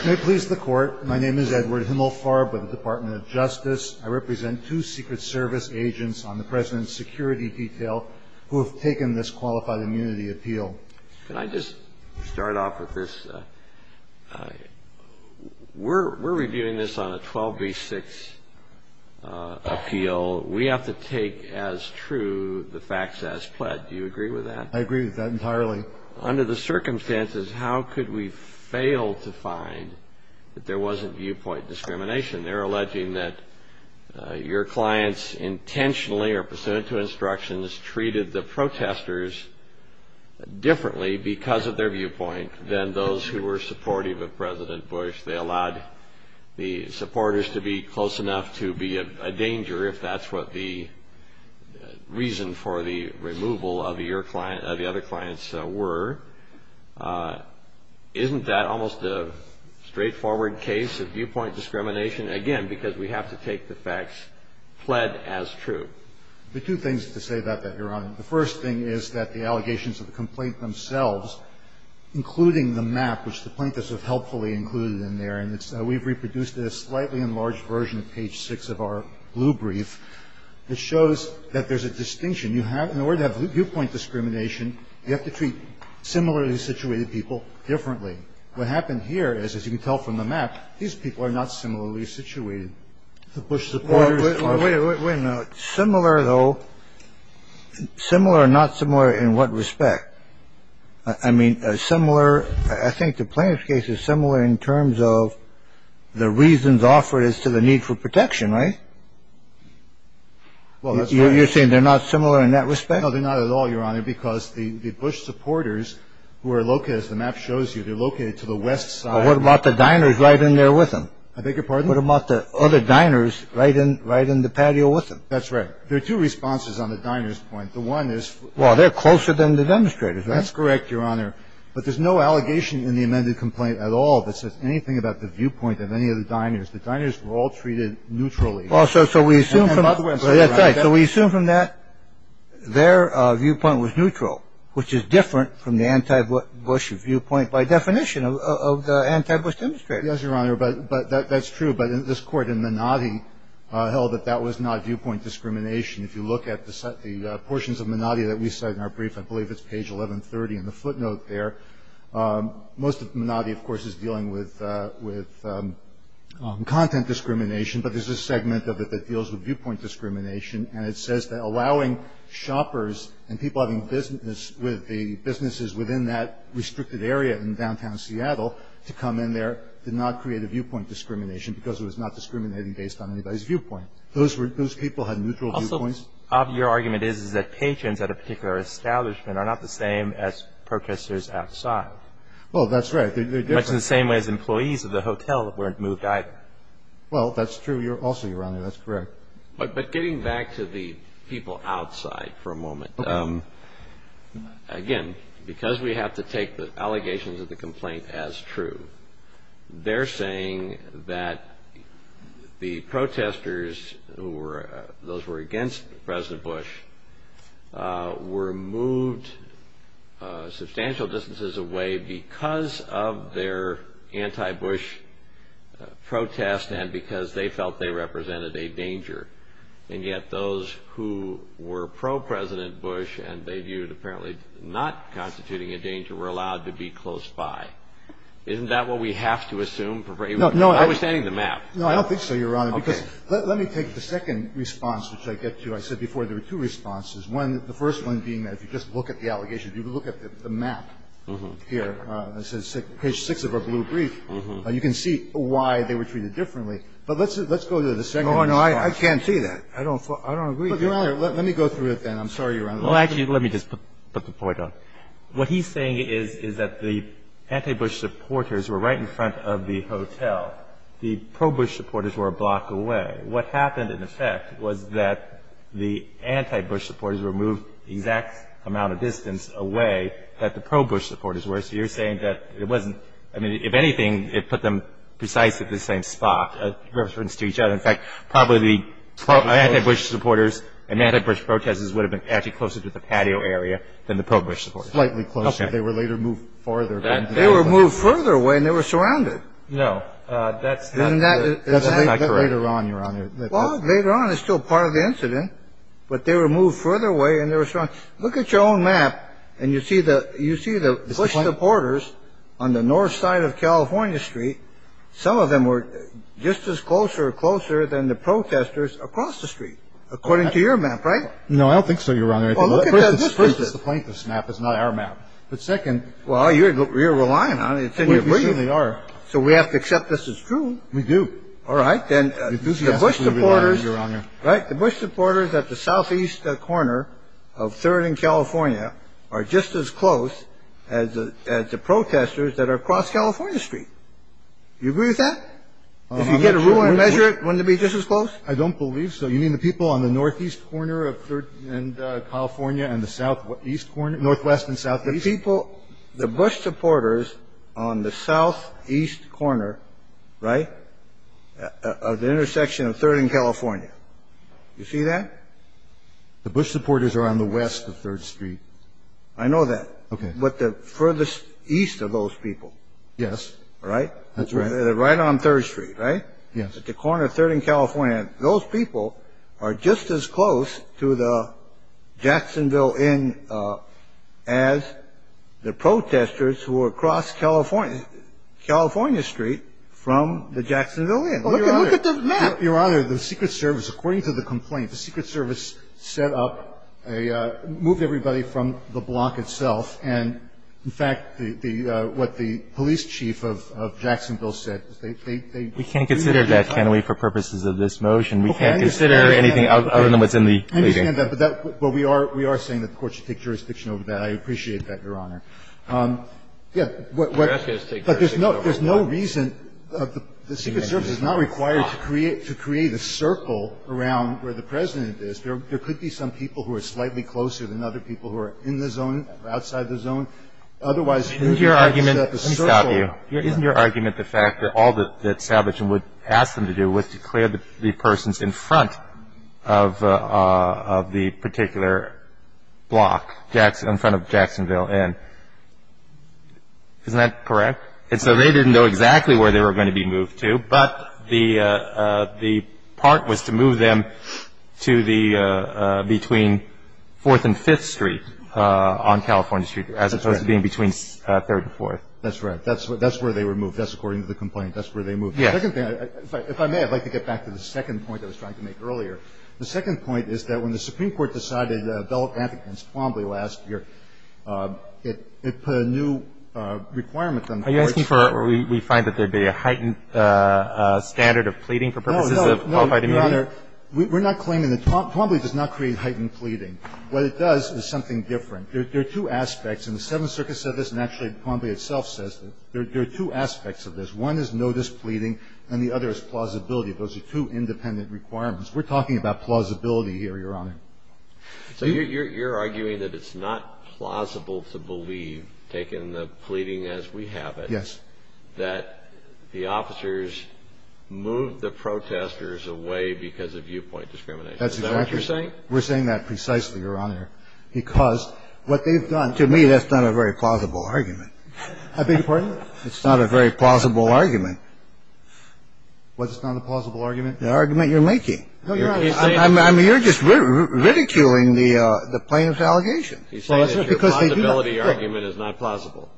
Can I please the Court? My name is Edward Himmelfarb with the Department of Justice. I represent two Secret Service agents on the President's security detail who have taken this qualified immunity appeal. Can I just start off with this? We're reviewing this on a 12b-6 appeal. We have to take as true the facts as pled. Do you agree with that? I agree with that entirely. Under the circumstances, how could we fail to find that there wasn't viewpoint discrimination? They're alleging that your clients intentionally or pursuant to instructions treated the protesters differently because of their viewpoint than those who were supportive of President Bush. They allowed the supporters to be close enough to be a danger, if that's what the reason for the removal of the other clients were. Isn't that almost a straightforward case of viewpoint discrimination? Again, because we have to take the facts pled as true. There are two things to say about that, Your Honor. The first thing is that the allegations of the complaint themselves, including the map, which the plaintiffs have helpfully included in there, and we've reproduced it in a slightly enlarged version of page six of our blue brief, it shows that there's a distinction. In order to have viewpoint discrimination, you have to treat similarly situated people differently. What happened here is, as you can tell from the map, these people are not similarly situated. The Bush supporters are. Wait a minute. Similar, though. Similar, not similar in what respect? I mean, similar. I think the plaintiff's case is similar in terms of the reasons offered as to the need for protection, right? Well, you're saying they're not similar in that respect? No, they're not at all, Your Honor, because the Bush supporters who are located, as the map shows you, they're located to the west side. What about the diners right in there with them? I beg your pardon? What about the other diners right in the patio with them? That's right. There are two responses on the diners point. The one is. Well, they're closer than the demonstrators. That's correct, Your Honor. But there's no allegation in the amended complaint at all that says anything about the viewpoint of any of the diners. The diners were all treated neutrally. Also, so we assume. So we assume from that their viewpoint was neutral, which is different from the anti-Bush viewpoint by definition of the anti-Bush demonstrators. Yes, Your Honor. But that's true. But this court in Menotti held that that was not viewpoint discrimination. If you look at the portions of Menotti that we cite in our brief, I believe it's page 1130 in the footnote there, most of Menotti, of course, is dealing with content discrimination, but there's a segment of it that deals with viewpoint discrimination, and it says that allowing shoppers and people having business with the businesses within that restricted area in downtown Seattle to come in there did not create a viewpoint discrimination because it was not discriminating based on anybody's viewpoint. Those people had neutral viewpoints? Also, your argument is that patrons at a particular establishment are not the same as protesters outside. Well, that's right. They're different. Much in the same way as employees of the hotel weren't moved either. Well, that's true also, Your Honor. That's correct. But getting back to the people outside for a moment, again, because we have to take the allegations of the complaint as true, they're saying that the protesters, those who were against President Bush, were moved substantial distances away because of their anti-Bush protest and because they felt they represented a danger, and yet those who were pro-President Bush and they viewed apparently not constituting a danger were allowed to be close by. Isn't that what we have to assume? No, no. Understanding the map. No, I don't think so, Your Honor. Okay. Because let me take the second response, which I get to. I said before there were two responses. One, the first one being that if you just look at the allegations, if you look at the map here, page 6 of our blue brief, you can see why they were treated differently. But let's go to the second response. Oh, no. I can't see that. I don't agree. But, Your Honor, let me go through it then. I'm sorry, Your Honor. Well, actually, let me just put the point out. What he's saying is that the anti-Bush supporters were right in front of the hotel. The pro-Bush supporters were a block away. What happened, in effect, was that the anti-Bush supporters were moved the exact amount of distance away that the pro-Bush supporters were. So you're saying that it wasn't – I mean, if anything, it put them precisely at the same spot, in reference to each other. In fact, probably the anti-Bush supporters and anti-Bush protesters would have been actually closer to the patio area than the pro-Bush supporters. Slightly closer. They were later moved farther. They were moved further away, and they were surrounded. No. That's not correct. That's later on, Your Honor. Well, later on is still part of the incident. But they were moved further away, and they were surrounded. Look at your own map, and you see the Bush supporters on the north side of California Street. Some of them were just as close or closer than the protesters across the street, according to your map, right? No, I don't think so, Your Honor. First, it's the plaintiff's map. It's not our map. But second – Well, you're relying on it. Can you believe it? We certainly are. So we have to accept this as true. We do. All right. Then the Bush supporters – Right. The Bush supporters at the southeast corner of 3rd and California are just as close as the protesters that are across California Street. Do you agree with that? If you get a ruler and measure it, wouldn't it be just as close? I don't believe so. You mean the people on the northeast corner of 3rd and California and the southwest and southeast? The people – the Bush supporters on the southeast corner, right, of the intersection of 3rd and California. You see that? The Bush supporters are on the west of 3rd Street. I know that. Okay. But the furthest east of those people – Yes. Right? That's right. Right on 3rd Street, right? Yes. The Bush supporters at the corner of 3rd and California, those people are just as close to the Jacksonville Inn as the protesters who are across California Street from the Jacksonville Inn. Look at the map. Your Honor, the Secret Service, according to the complaint, the Secret Service set up a – moved everybody from the block itself. And, in fact, the – what the police chief of Jacksonville said, they – We can't consider that, can we, for purposes of this motion? We can't consider anything other than what's in the – I understand that. But we are saying that the court should take jurisdiction over that. I appreciate that, Your Honor. Yes. But there's no reason – the Secret Service is not required to create a circle around where the President is. There could be some people who are slightly closer than other people who are in the zone, outside the zone. Otherwise – Isn't your argument – Let me stop you. Isn't your argument the fact that all that Savage would ask them to do was to clear the persons in front of the particular block, in front of Jacksonville Inn? Isn't that correct? And so they didn't know exactly where they were going to be moved to, but the part was to move them to the – between 4th and 5th Street on California Street, as opposed to being between 3rd and 4th. That's right. That's where they were moved. That's according to the complaint. That's where they moved. Yes. The second thing – if I may, I'd like to get back to the second point I was trying to make earlier. The second point is that when the Supreme Court decided to develop antitrust promptly last year, it put a new requirement on the courts. Are you asking for – we find that there would be a heightened standard of pleading for purposes of qualified immunity? No, no, no, Your Honor. We're not claiming that – promptly does not create heightened pleading. What it does is something different. There are two aspects, and the Seventh Circuit said this and actually promptly itself says this. There are two aspects of this. One is no displeading and the other is plausibility. Those are two independent requirements. We're talking about plausibility here, Your Honor. So you're arguing that it's not plausible to believe, taking the pleading as we have it, that the officers moved the protesters away because of viewpoint discrimination. Is that what you're saying? We're saying that precisely, Your Honor. Because what they've done – to me, that's not a very plausible argument. I beg your pardon? It's not a very plausible argument. What's not a plausible argument? The argument you're making. I mean, you're just ridiculing the plaintiff's allegation. He's saying that your plausibility argument is not plausible.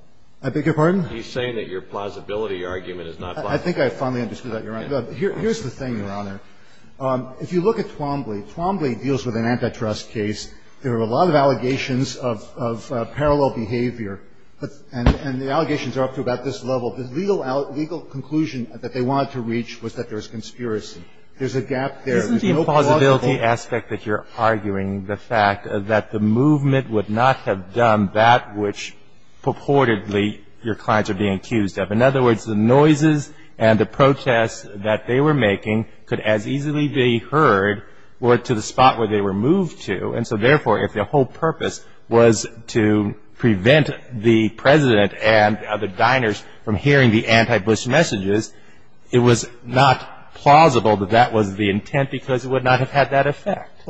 I beg your pardon? He's saying that your plausibility argument is not plausible. I think I finally understood that, Your Honor. Here's the thing, Your Honor. If you look at Twombly, Twombly deals with an antitrust case. There are a lot of allegations of parallel behavior. And the allegations are up to about this level. The legal conclusion that they wanted to reach was that there was conspiracy. There's a gap there. There's no plausibility. Isn't the plausibility aspect that you're arguing the fact that the movement would not have done that which purportedly your clients are being accused of? In other words, the noises and the protests that they were making could as easily be heard or to the spot where they were moved to. And so, therefore, if their whole purpose was to prevent the President and the diners from hearing the anti-Bush messages, it was not plausible that that was the intent because it would not have had that effect.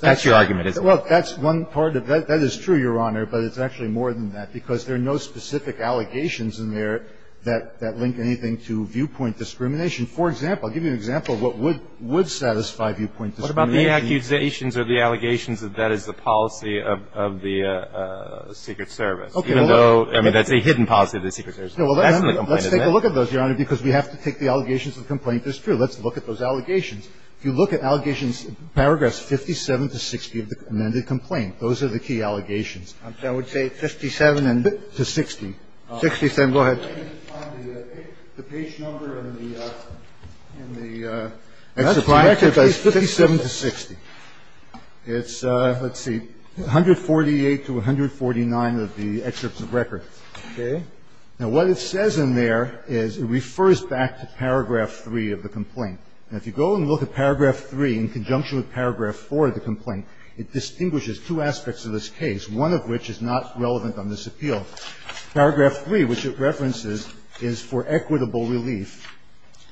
That's your argument, isn't it? Well, that's one part of it. That is true, Your Honor, but it's actually more than that because there are no specific allegations in there that link anything to viewpoint discrimination. For example, I'll give you an example of what would satisfy viewpoint discrimination. What about the accusations or the allegations that that is the policy of the Secret Service, even though, I mean, that's a hidden policy of the Secret Service? That's in the complaint, isn't it? Let's take a look at those, Your Honor, because we have to take the allegations of the complaint. It's true. Let's look at those allegations. If you look at allegations, paragraphs 57 to 60 of the amended complaint, those are the key allegations. I would say 57 and. To 60. Go ahead. The page number in the, in the. 57 to 60. It's, let's see, 148 to 149 of the excerpts of record. Okay. Now, what it says in there is it refers back to paragraph 3 of the complaint. It distinguishes two aspects of this case, one of which is not relevant on this appeal. Paragraph 3, which it references, is for equitable relief.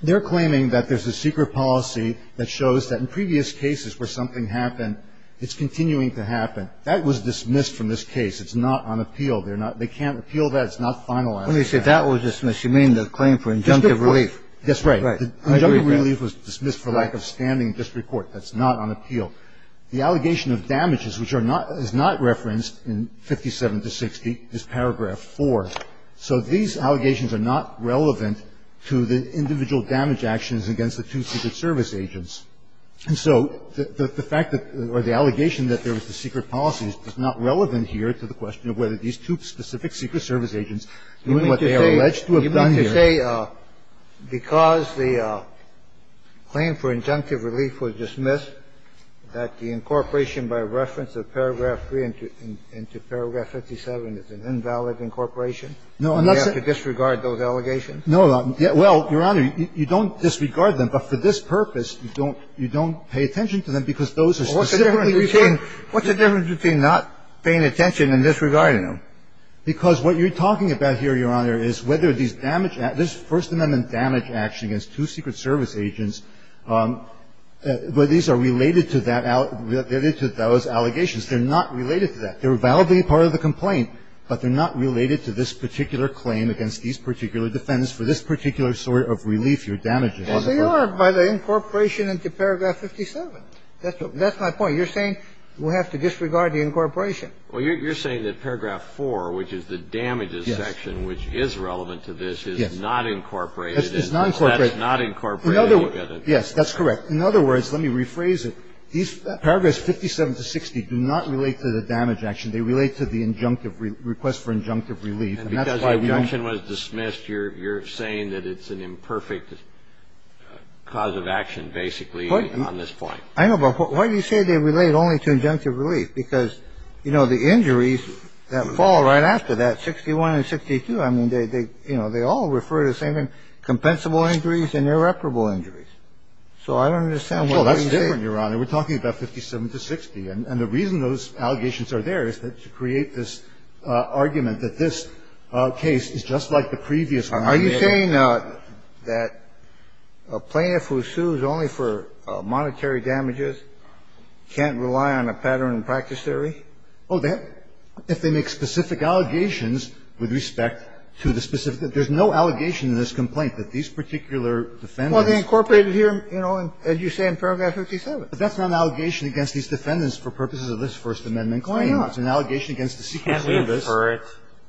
They're claiming that there's a secret policy that shows that in previous cases where something happened, it's continuing to happen. That was dismissed from this case. It's not on appeal. They're not, they can't appeal that. It's not finalized. When you say that was dismissed, you mean the claim for injunctive relief. That's right. Right. Injunctive relief was dismissed for lack of standing in district court. That's not on appeal. The allegation of damages, which are not, is not referenced in 57 to 60, is paragraph 4. So these allegations are not relevant to the individual damage actions against the two Secret Service agents. And so the fact that, or the allegation that there was a secret policy is not relevant here to the question of whether these two specific Secret Service agents, given what they are alleged to have done here. I would say because the claim for injunctive relief was dismissed, that the incorporation by reference of paragraph 3 into paragraph 57 is an invalid incorporation. No, I'm not saying. Do we have to disregard those allegations? No. Well, Your Honor, you don't disregard them. But for this purpose, you don't pay attention to them because those are specific. What's the difference between not paying attention and disregarding them? Because what you're talking about here, Your Honor, is whether these damage acts this First Amendment damage action against two Secret Service agents, whether these are related to that, related to those allegations. They're not related to that. They're validly part of the complaint, but they're not related to this particular claim against these particular defendants for this particular sort of relief or damages. Well, they are by the incorporation into paragraph 57. That's my point. You're saying we have to disregard the incorporation. Well, you're saying that paragraph 4, which is the damages section, which is relevant to this, is not incorporated. It's not incorporated. That's not incorporated. Yes, that's correct. In other words, let me rephrase it. These paragraphs 57 to 60 do not relate to the damage action. They relate to the injunctive request for injunctive relief. And that's why we don't. And because the injunction was dismissed, you're saying that it's an imperfect cause of action, basically, on this point. I know. But why do you say they relate only to injunctive relief? Because, you know, the injuries that fall right after that, 61 and 62, I mean, they all refer to the same thing, compensable injuries and irreparable injuries. So I don't understand why you say that. Well, that's different, Your Honor. We're talking about 57 to 60. And the reason those allegations are there is to create this argument that this case is just like the previous one. Are you saying that a plaintiff who sues only for monetary damages can't rely on a pattern and practice theory? Oh, that they make specific allegations with respect to the specific. There's no allegation in this complaint that these particular defendants. Well, they incorporated here, you know, as you say, in paragraph 57. But that's not an allegation against these defendants for purposes of this First Amendment claim. It's an allegation against the secrecy of this. Can't we infer it?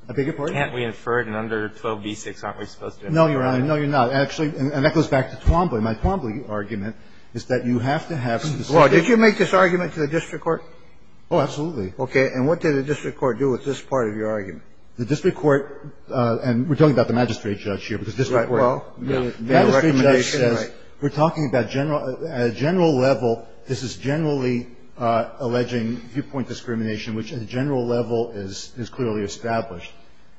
I beg your pardon? Can't we infer it in under 12b-6? Aren't we supposed to infer it? No, Your Honor. No, you're not. Actually, and that goes back to Twombly. My Twombly argument is that you have to have specific. Well, did you make this argument to the district court? Oh, absolutely. Okay. And what did the district court do with this part of your argument? The district court, and we're talking about the magistrate judge here, because district court. Right. Well, the recommendation. The magistrate judge says we're talking about at a general level, this is generally alleging viewpoint discrimination, which at a general level is clearly established.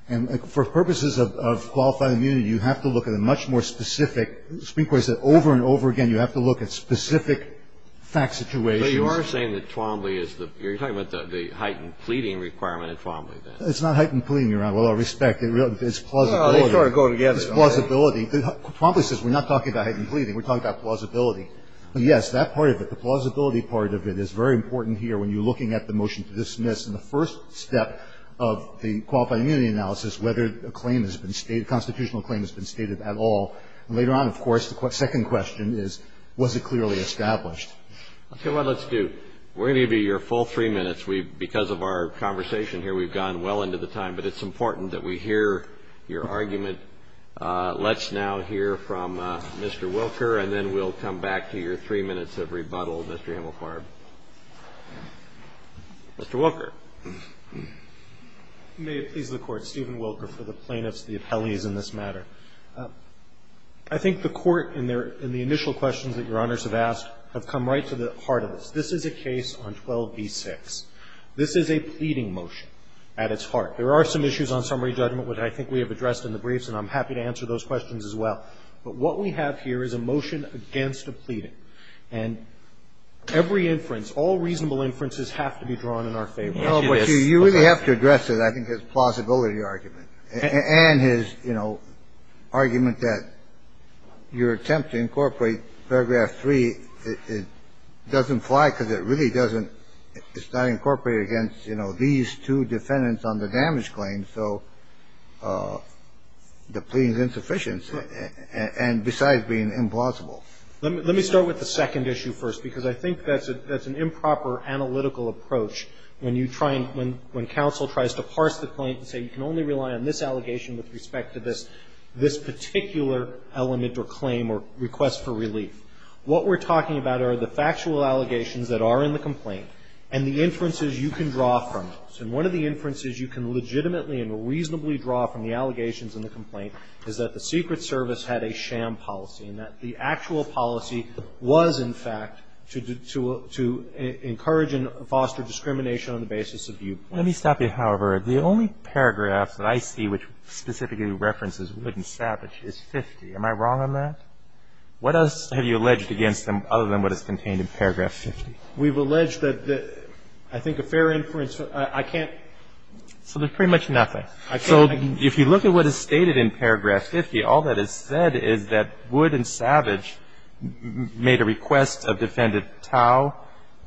And for purposes of qualified immunity, you have to look at a much more specific the district court said over and over again, you have to look at specific fact situations. But you are saying that Twombly is the you're talking about the heightened pleading requirement at Twombly, then. It's not heightened pleading, Your Honor, with all respect. It's plausibility. No, they sort of go together. It's plausibility. Twombly says we're not talking about heightened pleading. We're talking about plausibility. Yes, that part of it, the plausibility part of it is very important here when you're in the first step of the qualified immunity analysis, whether a claim has been stated, a constitutional claim has been stated at all. And later on, of course, the second question is, was it clearly established? Let's see what let's do. We're going to give you your full three minutes. Because of our conversation here, we've gone well into the time, but it's important that we hear your argument. Let's now hear from Mr. Wilker, and then we'll come back to your three minutes of rebuttal, Mr. Hemelfarb. Mr. Wilker. May it please the Court. Stephen Wilker for the plaintiffs, the appellees in this matter. I think the Court, in the initial questions that Your Honors have asked, have come right to the heart of this. This is a case on 12b-6. This is a pleading motion at its heart. There are some issues on summary judgment, which I think we have addressed in the briefs, and I'm happy to answer those questions as well. But what we have here is a motion against a pleading. And every inference, all reasonable inferences have to be drawn in our favor. You really have to address it. I think it's a plausibility argument. And his, you know, argument that your attempt to incorporate paragraph 3, it doesn't fly because it really doesn't. It's not incorporated against, you know, these two defendants on the damage claim. So the pleading is insufficient, and besides being implausible. Let me start with the second issue first, because I think that's an improper analytical approach when you try and, when counsel tries to parse the claim and say you can only rely on this allegation with respect to this particular element or claim or request for relief. What we're talking about are the factual allegations that are in the complaint and the inferences you can draw from those. And one of the inferences you can legitimately and reasonably draw from the allegations in the complaint is that the Secret Service had a sham policy and that the actual policy was, in fact, to encourage and foster discrimination on the basis of viewpoint. Let me stop you, however. The only paragraph that I see which specifically references Wood and Savage is 50. Am I wrong on that? What else have you alleged against them other than what is contained in paragraph 50? We've alleged that I think a fair inference. I can't. So there's pretty much nothing. So if you look at what is stated in paragraph 50, all that is said is that Wood and Savage made a request of Defendant Tao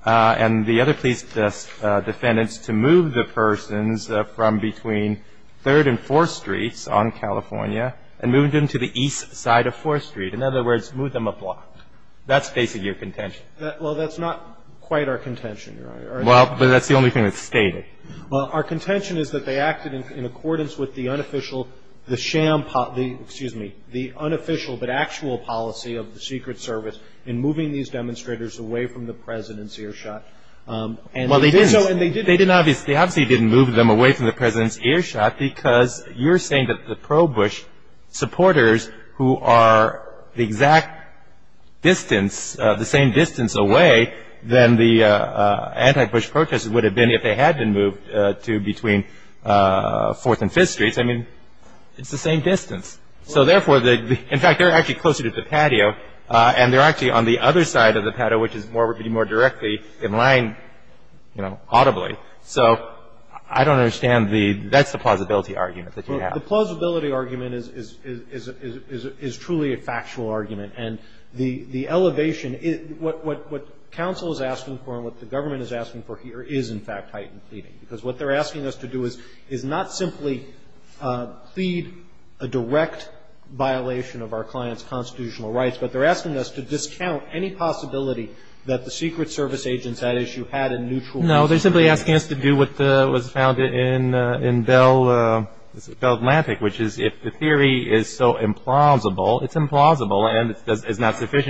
and the other police defendants to move the persons from between 3rd and 4th Streets on California and moved them to the east side of 4th Street. In other words, moved them a block. That's basically your contention. Well, that's not quite our contention. Well, but that's the only thing that's stated. Well, our contention is that they acted in accordance with the unofficial sham, excuse me, the unofficial but actual policy of the Secret Service in moving these demonstrators away from the President's earshot. Well, they didn't. They obviously didn't move them away from the President's earshot because you're saying that the pro-Bush supporters who are the exact distance, the same distance away than the anti-Bush protestors would have been if they had been moved to between 4th and 5th Streets. I mean, it's the same distance. So therefore, in fact, they're actually closer to the patio and they're actually on the other side of the patio, which is more directly in line, you know, audibly. So I don't understand the – that's the plausibility argument that you have. Well, the plausibility argument is truly a factual argument. And the elevation – what counsel is asking for and what the government is asking for here is, in fact, heightened pleading. Because what they're asking us to do is not simply plead a direct violation of our client's constitutional rights, but they're asking us to discount any possibility that the Secret Service agents at issue had a neutral view. No, they're simply asking us to do what was found in Bell Atlantic, which is if the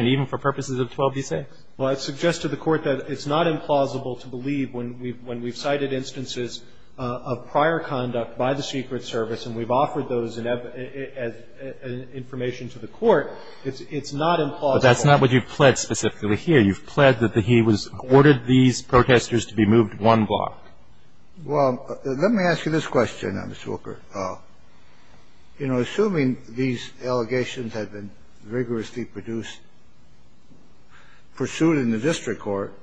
even for purposes of 12b6. Well, I'd suggest to the Court that it's not implausible to believe when we've cited instances of prior conduct by the Secret Service and we've offered those information to the Court, it's not implausible. But that's not what you've pled specifically here. You've pled that he was – ordered these protestors to be moved one block. Well, let me ask you this question, Mr. Walker. Well, you know, assuming these allegations had been rigorously produced, pursued in the district court,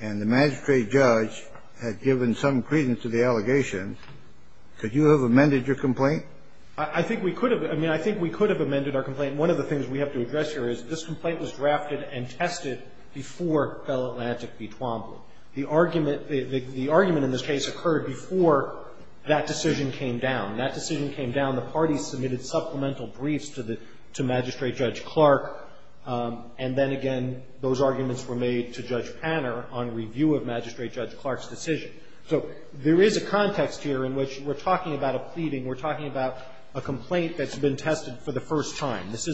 and the magistrate judge had given some credence to the allegations, could you have amended your complaint? I think we could have. I mean, I think we could have amended our complaint. One of the things we have to address here is this complaint was drafted and tested before Bell Atlantic v. Twombly. The argument – the argument in this case occurred before that decision came down. When that decision came down, the parties submitted supplemental briefs to the – to Magistrate Judge Clark. And then again, those arguments were made to Judge Panner on review of Magistrate Judge Clark's decision. So there is a context here in which we're talking about a pleading, we're talking about a complaint that's been tested for the first time. So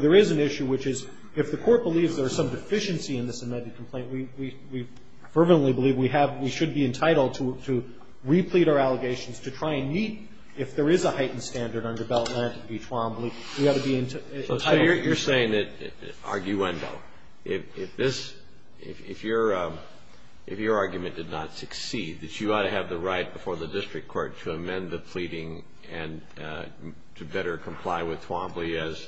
there is an issue which is, if the court believes there is some deficiency in this amended complaint, we fervently believe we have – we should be entitled to replete our allegations to try and meet, if there is a heightened standard under Bell Atlantic v. Twombly, we ought to be entitled to it. So you're saying that, arguendo, if this – if your argument did not succeed, that you ought to have the right before the district court to amend the pleading and to better comply with Twombly as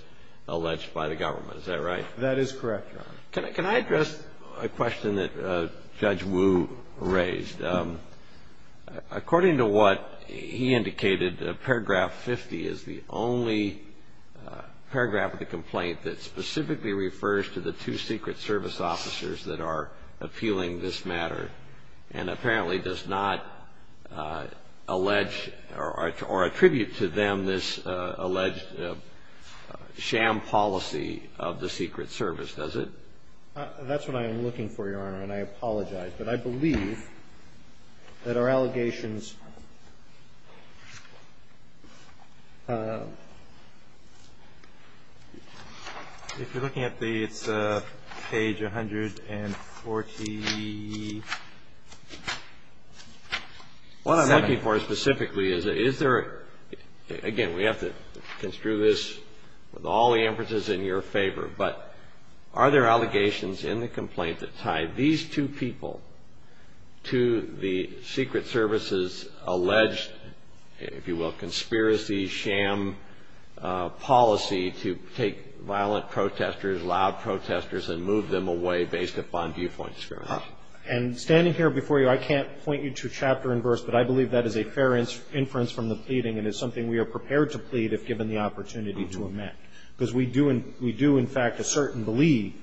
alleged by the government. Is that right? That is correct, Your Honor. Can I address a question that Judge Wu raised? According to what he indicated, paragraph 50 is the only paragraph of the complaint that specifically refers to the two Secret Service officers that are appealing this alleged sham policy of the Secret Service, does it? That's what I am looking for, Your Honor, and I apologize. But I believe that our allegations – if you're looking at the – it's page 140. What I'm looking for specifically is, is there – again, we have to construe this with all the emphases in your favor, but are there allegations in the complaint that tie these two people to the Secret Service's alleged, if you will, conspiracy sham policy to take violent protesters, loud protesters, and move them away based upon viewpoint discrimination? And standing here before you, I can't point you to chapter and verse, but I believe that is a fair inference from the pleading and is something we are prepared to plead if given the opportunity to amend. Because we do, in fact, assert and believe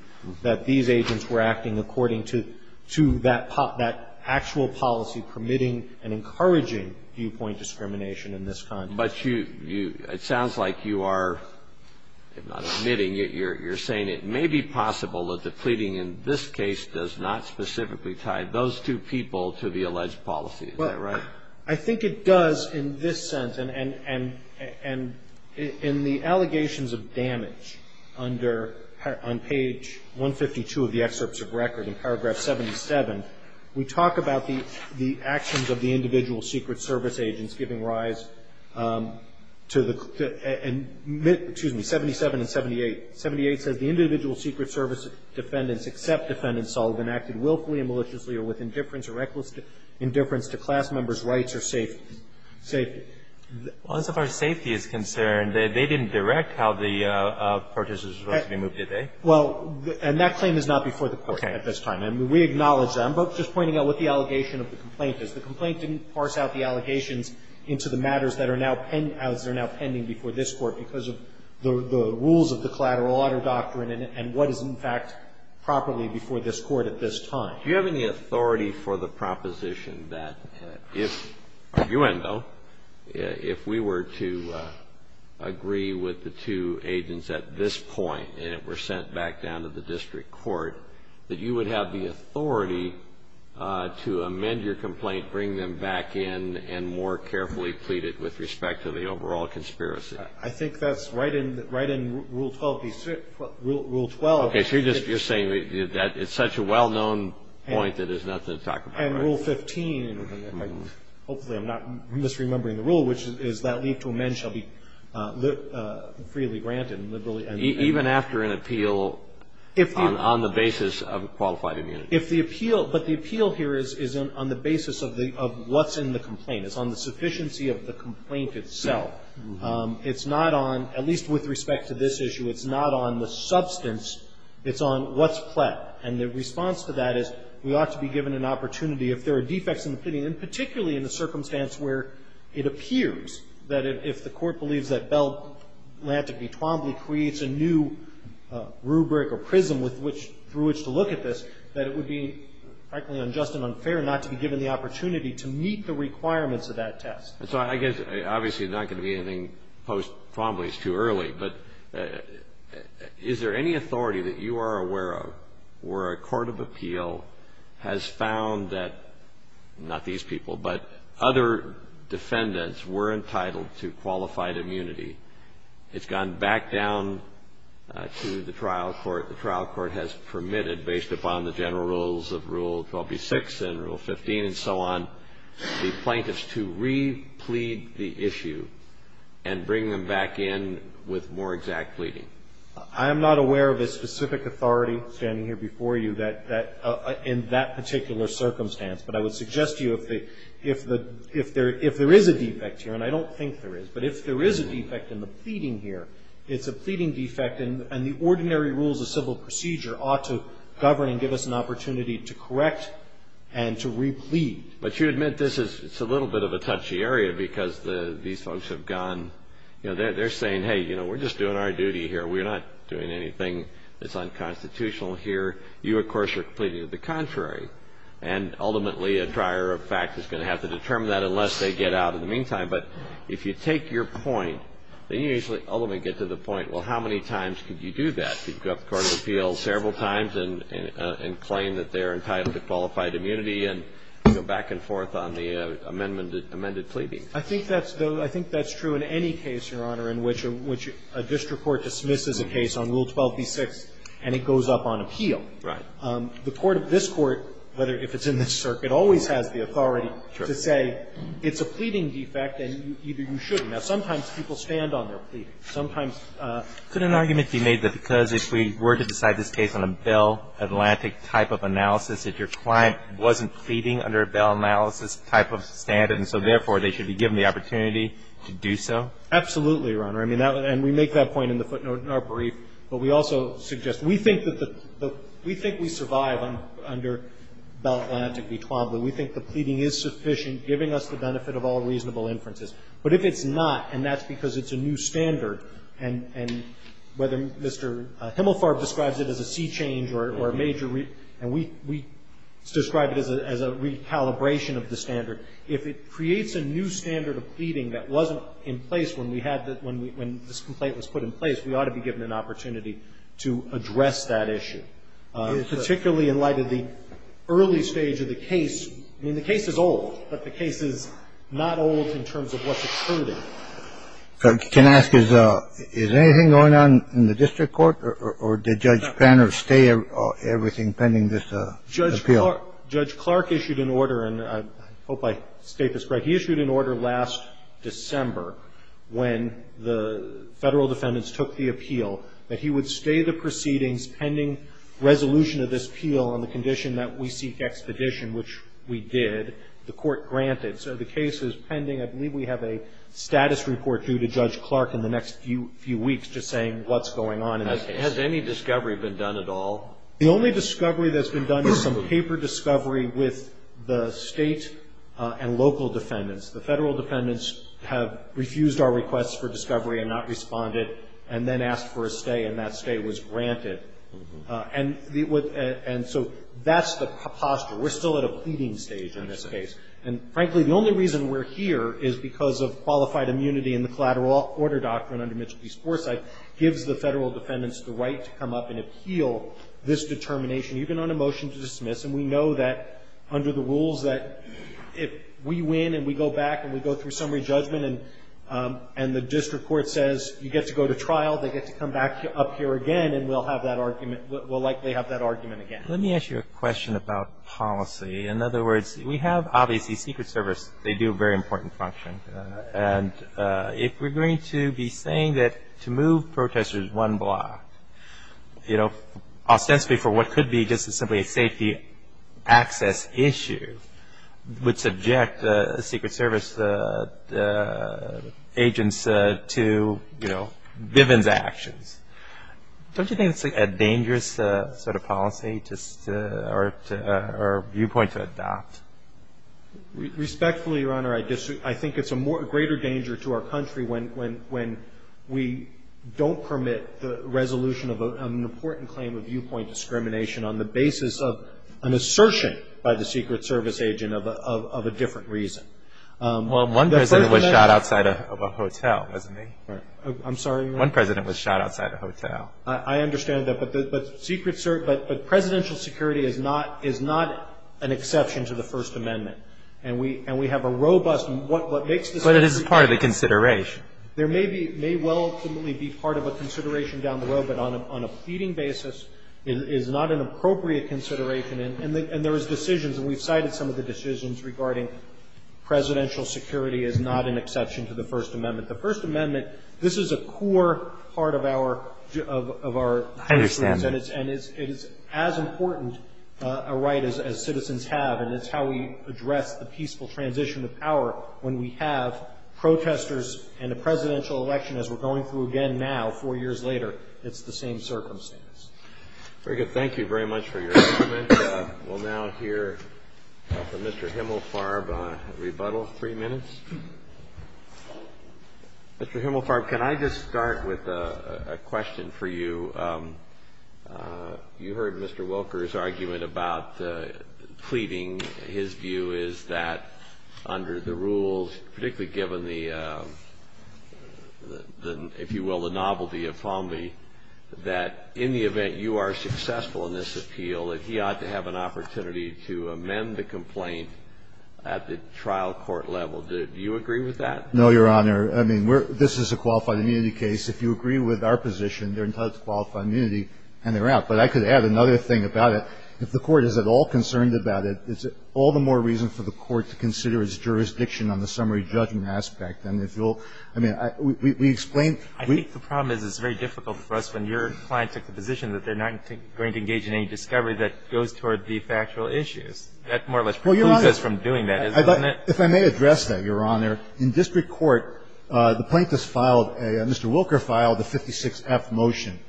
that these agents were acting according to that actual policy permitting and encouraging viewpoint discrimination in this context. But you – it sounds like you are, if not admitting it, you're saying it may be possible that the pleading in this case does not specifically tie those two people to the alleged policy. Is that right? Well, I think it does in this sense. And in the allegations of damage under – on page 152 of the excerpts of record in paragraph 77, we talk about the actions of the individual Secret Service agents giving rise to the – excuse me, 77 and 78. 78 says, The individual Secret Service defendants except defendants all have been acted willfully and maliciously or with indifference or reckless indifference to class members' rights or safety. Well, as far as safety is concerned, they didn't direct how the protesters were supposed to be moved, did they? Well, and that claim is not before the Court at this time. Okay. And we acknowledge that. I'm just pointing out what the allegation of the complaint is. The complaint didn't parse out the allegations into the matters that are now pending before this Court because of the rules of the collateral audit doctrine and what is in fact properly before this Court at this time. Do you have any authority for the proposition that if – arguendo – if we were to agree with the two agents at this point and it were sent back down to the district court, that you would have the authority to amend your complaint, bring them back in and more carefully plead it with respect to the overall conspiracy? I think that's right in Rule 12. Rule 12. Okay. So you're saying that it's such a well-known point that there's nothing to talk about. And Rule 15. Hopefully I'm not misremembering the rule, which is that leave to amend shall be freely granted and liberally amended. Even after an appeal on the basis of qualified immunity. If the appeal – but the appeal here is on the basis of what's in the complaint. It's on the sufficiency of the complaint itself. It's not on – at least with respect to this issue, it's not on the substance. It's on what's flat. And the response to that is we ought to be given an opportunity. If there are defects in the opinion, particularly in the circumstance where it appears that if the Court believes that Bell, Lantigby, Twombly creates a new rubric or prism with which – through which to look at this, that it would be frankly unjust and unfair not to be given the opportunity to meet the requirements of that test. So I guess obviously there's not going to be anything post-Twombly. It's too early. But is there any authority that you are aware of where a court of appeal has found that – not these people, but other defendants were entitled to qualified immunity. It's gone back down to the trial court. The trial court has permitted, based upon the general rules of Rule 12b-6 and Rule 15 and so on, the plaintiffs to re-plead the issue and bring them back in with more exact pleading. I am not aware of a specific authority standing here before you in that particular circumstance. But I would suggest to you if there is a defect here, and I don't think there is, but if there is a defect in the pleading here, it's a pleading defect, and the ordinary rules of civil procedure ought to govern and give us an opportunity to correct and to re-plead. But you admit this is a little bit of a touchy area because these folks have gone – they're saying, hey, you know, we're just doing our duty here. We're not doing anything that's unconstitutional here. You, of course, are pleading to the contrary. And ultimately, a trier of fact is going to have to determine that unless they get out in the meantime. But if you take your point, then you usually ultimately get to the point, well, how many times could you do that? Could you go up to the court of appeal several times and claim that they're entitled to qualified immunity and go back and forth on the amended pleading? I think that's true in any case, Your Honor, in which a district court dismisses a case on Rule 12b-6 and it goes up on appeal. Right. The court of this Court, whether if it's in this circuit, always has the authority to say it's a pleading defect and either you should. Now, sometimes people stand on their pleading. Sometimes – Could an argument be made that because if we were to decide this case on a Bell Atlantic type of analysis, if your client wasn't pleading under a Bell analysis type of standard and so therefore they should be given the opportunity to do so? Absolutely, Your Honor. I mean, and we make that point in the footnote in our brief. But we also suggest – we think that the – we think we survive under Bell Atlantic v. Twombly. We think the pleading is sufficient, giving us the benefit of all reasonable inferences. But if it's not, and that's because it's a new standard, and whether Mr. Himmelfarb describes it as a sea change or a major – and we describe it as a recalibration of the standard, if it creates a new standard of pleading that wasn't in place when we had the – when this complaint was put in place, we ought to be given an opportunity to address that issue, particularly in light of the early stage of the case. I mean, the case is old, but the case is not old in terms of what's occurred in it. So can I ask, is anything going on in the district court, or did Judge Panner stay everything pending this appeal? Judge Clark issued an order, and I hope I state this right. He issued an order last December when the Federal defendants took the appeal, that he would stay the proceedings pending resolution of this appeal on the condition that we seek expedition, which we did. The court granted. So the case is pending. I believe we have a status report due to Judge Clark in the next few weeks just saying what's going on in this case. Has any discovery been done at all? The only discovery that's been done is some paper discovery with the State and local defendants. The Federal defendants have refused our request for discovery and not responded and then asked for a stay, and that stay was granted. And so that's the posture. We're still at a pleading stage in this case. And, frankly, the only reason we're here is because of qualified immunity in the collateral order doctrine under Mitchell v. Forsythe gives the Federal defendants the right to come up and appeal this determination, even on a motion to dismiss. And we know that under the rules that if we win and we go back and we go through summary judgment and the district court says you get to go to trial, they get to come back up here again, and we'll likely have that argument again. Let me ask you a question about policy. In other words, we have obviously Secret Service. They do a very important function. And if we're going to be saying that to move protesters one block, you know, ostensibly for what could be just simply a safety access issue, would subject Secret Service agents to, you know, Bivens actions. Don't you think it's a dangerous sort of policy or viewpoint to adopt? Respectfully, Your Honor, I think it's a greater danger to our country when we don't permit the resolution of an important claim of viewpoint discrimination on the basis of an assertion by the Secret Service agent of a different reason. Well, one president was shot outside of a hotel, wasn't he? I'm sorry? One president was shot outside a hotel. I understand that. But Secret Service, but presidential security is not an exception to the First Amendment. And we have a robust, and what makes the First Amendment. But it is part of the consideration. There may be, may well ultimately be part of a consideration down the road, but on a feeding basis is not an appropriate consideration. And there is decisions, and we've cited some of the decisions regarding presidential security is not an exception to the First Amendment. The First Amendment, this is a core part of our, of our. I understand that. And it's as important a right as citizens have. And it's how we address the peaceful transition of power when we have protesters and a presidential election as we're going through again now, four years later, it's the same circumstance. Very good. Thank you very much for your argument. We'll now hear from Mr. Himmelfarb, rebuttal, three minutes. Mr. Himmelfarb, can I just start with a question for you? You heard Mr. Wilker's argument about pleading. His view is that under the rules, particularly given the, if you will, the novelty of Falmey, that in the event you are successful in this appeal, that he ought to have an opportunity to amend the complaint at the trial court level. Do you agree with that? No, Your Honor. I mean, we're, this is a qualified immunity case. If you agree with our position, they're entitled to qualified immunity and they're out. But I could add another thing about it. If the Court is at all concerned about it, it's all the more reason for the Court to consider its jurisdiction on the summary judgment aspect. And if you'll, I mean, we explain. I think the problem is it's very difficult for us when your client took the position that they're not going to engage in any discovery that goes toward the factual issues. That more or less precludes us from doing that, isn't it? Well, Your Honor, if I may address that, Your Honor, in district court, the plaintiffs filed a, Mr. Wilker filed a 56-F motion.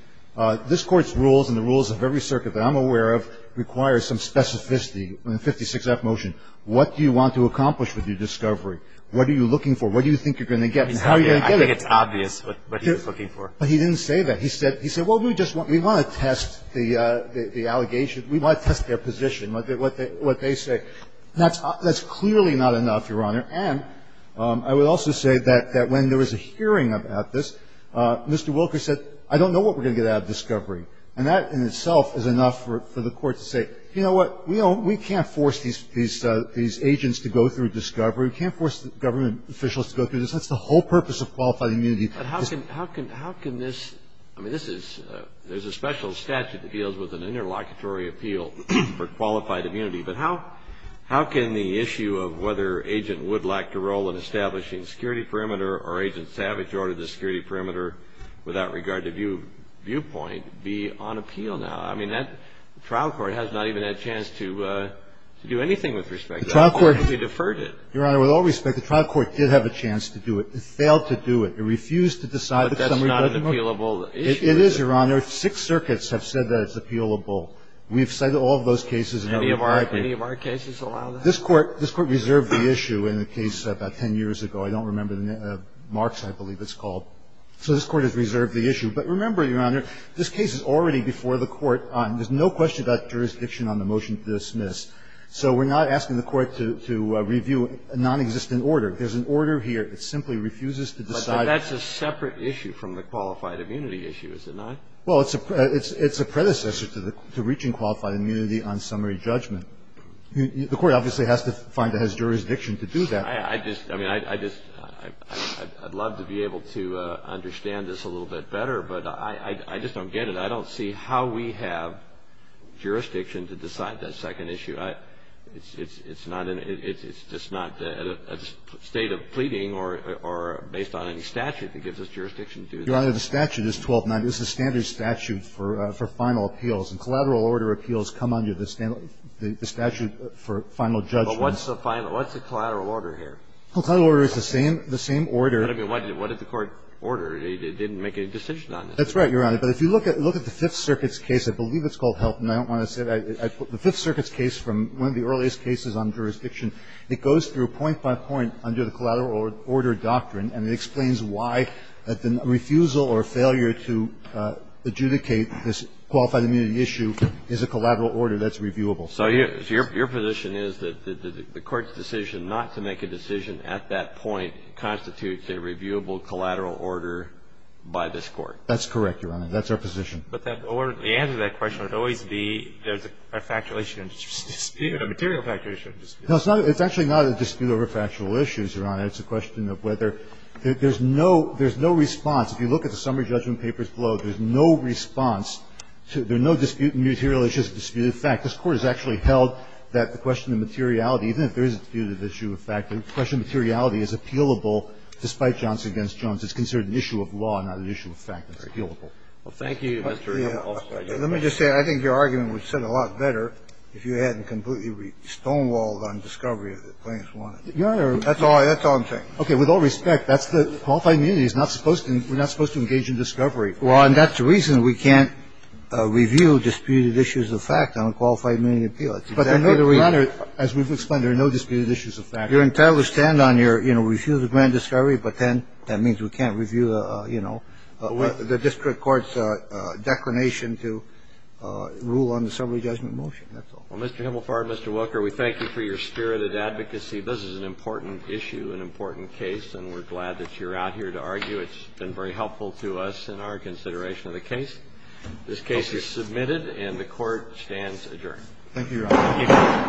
This Court's rules and the rules of every circuit that I'm aware of require some specificity in the 56-F motion. What do you want to accomplish with your discovery? What are you looking for? What do you think you're going to get and how are you going to get it? I think it's obvious what he was looking for. But he didn't say that. He said, well, we just want to test the allegations. We want to test their position, what they say. That's clearly not enough, Your Honor. And I would also say that when there was a hearing about this, Mr. Wilker said, I don't know what we're going to get out of discovery. And that in itself is enough for the Court to say, you know what? We can't force these agents to go through discovery. We can't force government officials to go through this. That's the whole purpose of qualified immunity. But how can this – I mean, this is – there's a special statute that deals with an interlocutory appeal for qualified immunity. But how can the issue of whether Agent Wood lacked a role in establishing security perimeter or Agent Savage ordered the security perimeter without regard to viewpoint be on appeal now? I mean, that trial court has not even had a chance to do anything with respect to that. The trial court deferred it. Your Honor, with all respect, the trial court did have a chance to do it. It failed to do it. It refused to decide the summary judgment. But that's not an appealable issue. It is, Your Honor. Six circuits have said that it's appealable. We've cited all of those cases. Any of our cases allow that? This Court reserved the issue in a case about 10 years ago. I don't remember the name. Marks, I believe it's called. So this Court has reserved the issue. But remember, Your Honor, this case is already before the Court. There's no question about jurisdiction on the motion to dismiss. So we're not asking the Court to review a nonexistent order. There's an order here. It simply refuses to decide. But that's a separate issue from the qualified immunity issue, is it not? Well, it's a predecessor to reaching qualified immunity on summary judgment. The Court obviously has to find that it has jurisdiction to do that. I just – I mean, I just – I'd love to be able to understand this a little bit better, but I just don't get it. I don't see how we have jurisdiction to decide that second issue. I – it's not an – it's just not a state of pleading or based on any statute that gives us jurisdiction to do that. Your Honor, the statute is 1290. It's a standard statute for final appeals. And collateral order appeals come under the statute for final judgments. But what's the final – what's the collateral order here? Collateral order is the same – the same order. But I mean, what did the Court order? It didn't make any decision on it. That's right, Your Honor. But if you look at the Fifth Circuit's case, I believe it's called Helton. I don't want to say that. The Fifth Circuit's case from one of the earliest cases on jurisdiction, it goes through point by point under the collateral order doctrine, and it explains why the refusal or failure to adjudicate this qualified immunity issue is a collateral order that's reviewable. So your position is that the Court's decision not to make a decision at that point constitutes a reviewable collateral order by this Court? That's correct, Your Honor. That's our position. But that order, the answer to that question would always be there's a factual issue and dispute, a material factual issue and dispute. No, it's not – it's actually not a dispute over factual issues, Your Honor. It's a question of whether – there's no – there's no response. If you look at the summary judgment papers below, there's no response to – there are no dispute and material issues of disputed fact. This Court has actually held that the question of materiality, even if there is a disputed issue of fact, the question of materiality is appealable despite Johnson v. Jones. It's considered an issue of law, not an issue of fact. It's appealable. Well, thank you, Mr. O'Connell. Let me just say, I think your argument would have said a lot better if you hadn't completely stonewalled on discovery that the plaintiffs wanted. Your Honor. That's all – that's all I'm saying. Okay. With all respect, that's the – qualified immunity is not supposed to – we're not supposed to engage in discovery. Well, and that's the reason we can't review disputed issues of fact on a qualified immunity appeal. But, Your Honor, as we've explained, there are no disputed issues of fact. You're entitled to stand on your – you know, review the grand discovery, but then that means we can't review, you know, the district court's declination to rule on the summary judgment motion. That's all. Well, Mr. Himmelfarb, Mr. Wilker, we thank you for your spirited advocacy. This is an important issue, an important case, and we're glad that you're out here to argue. It's been very helpful to us in our consideration of the case. Thank you, Your Honor.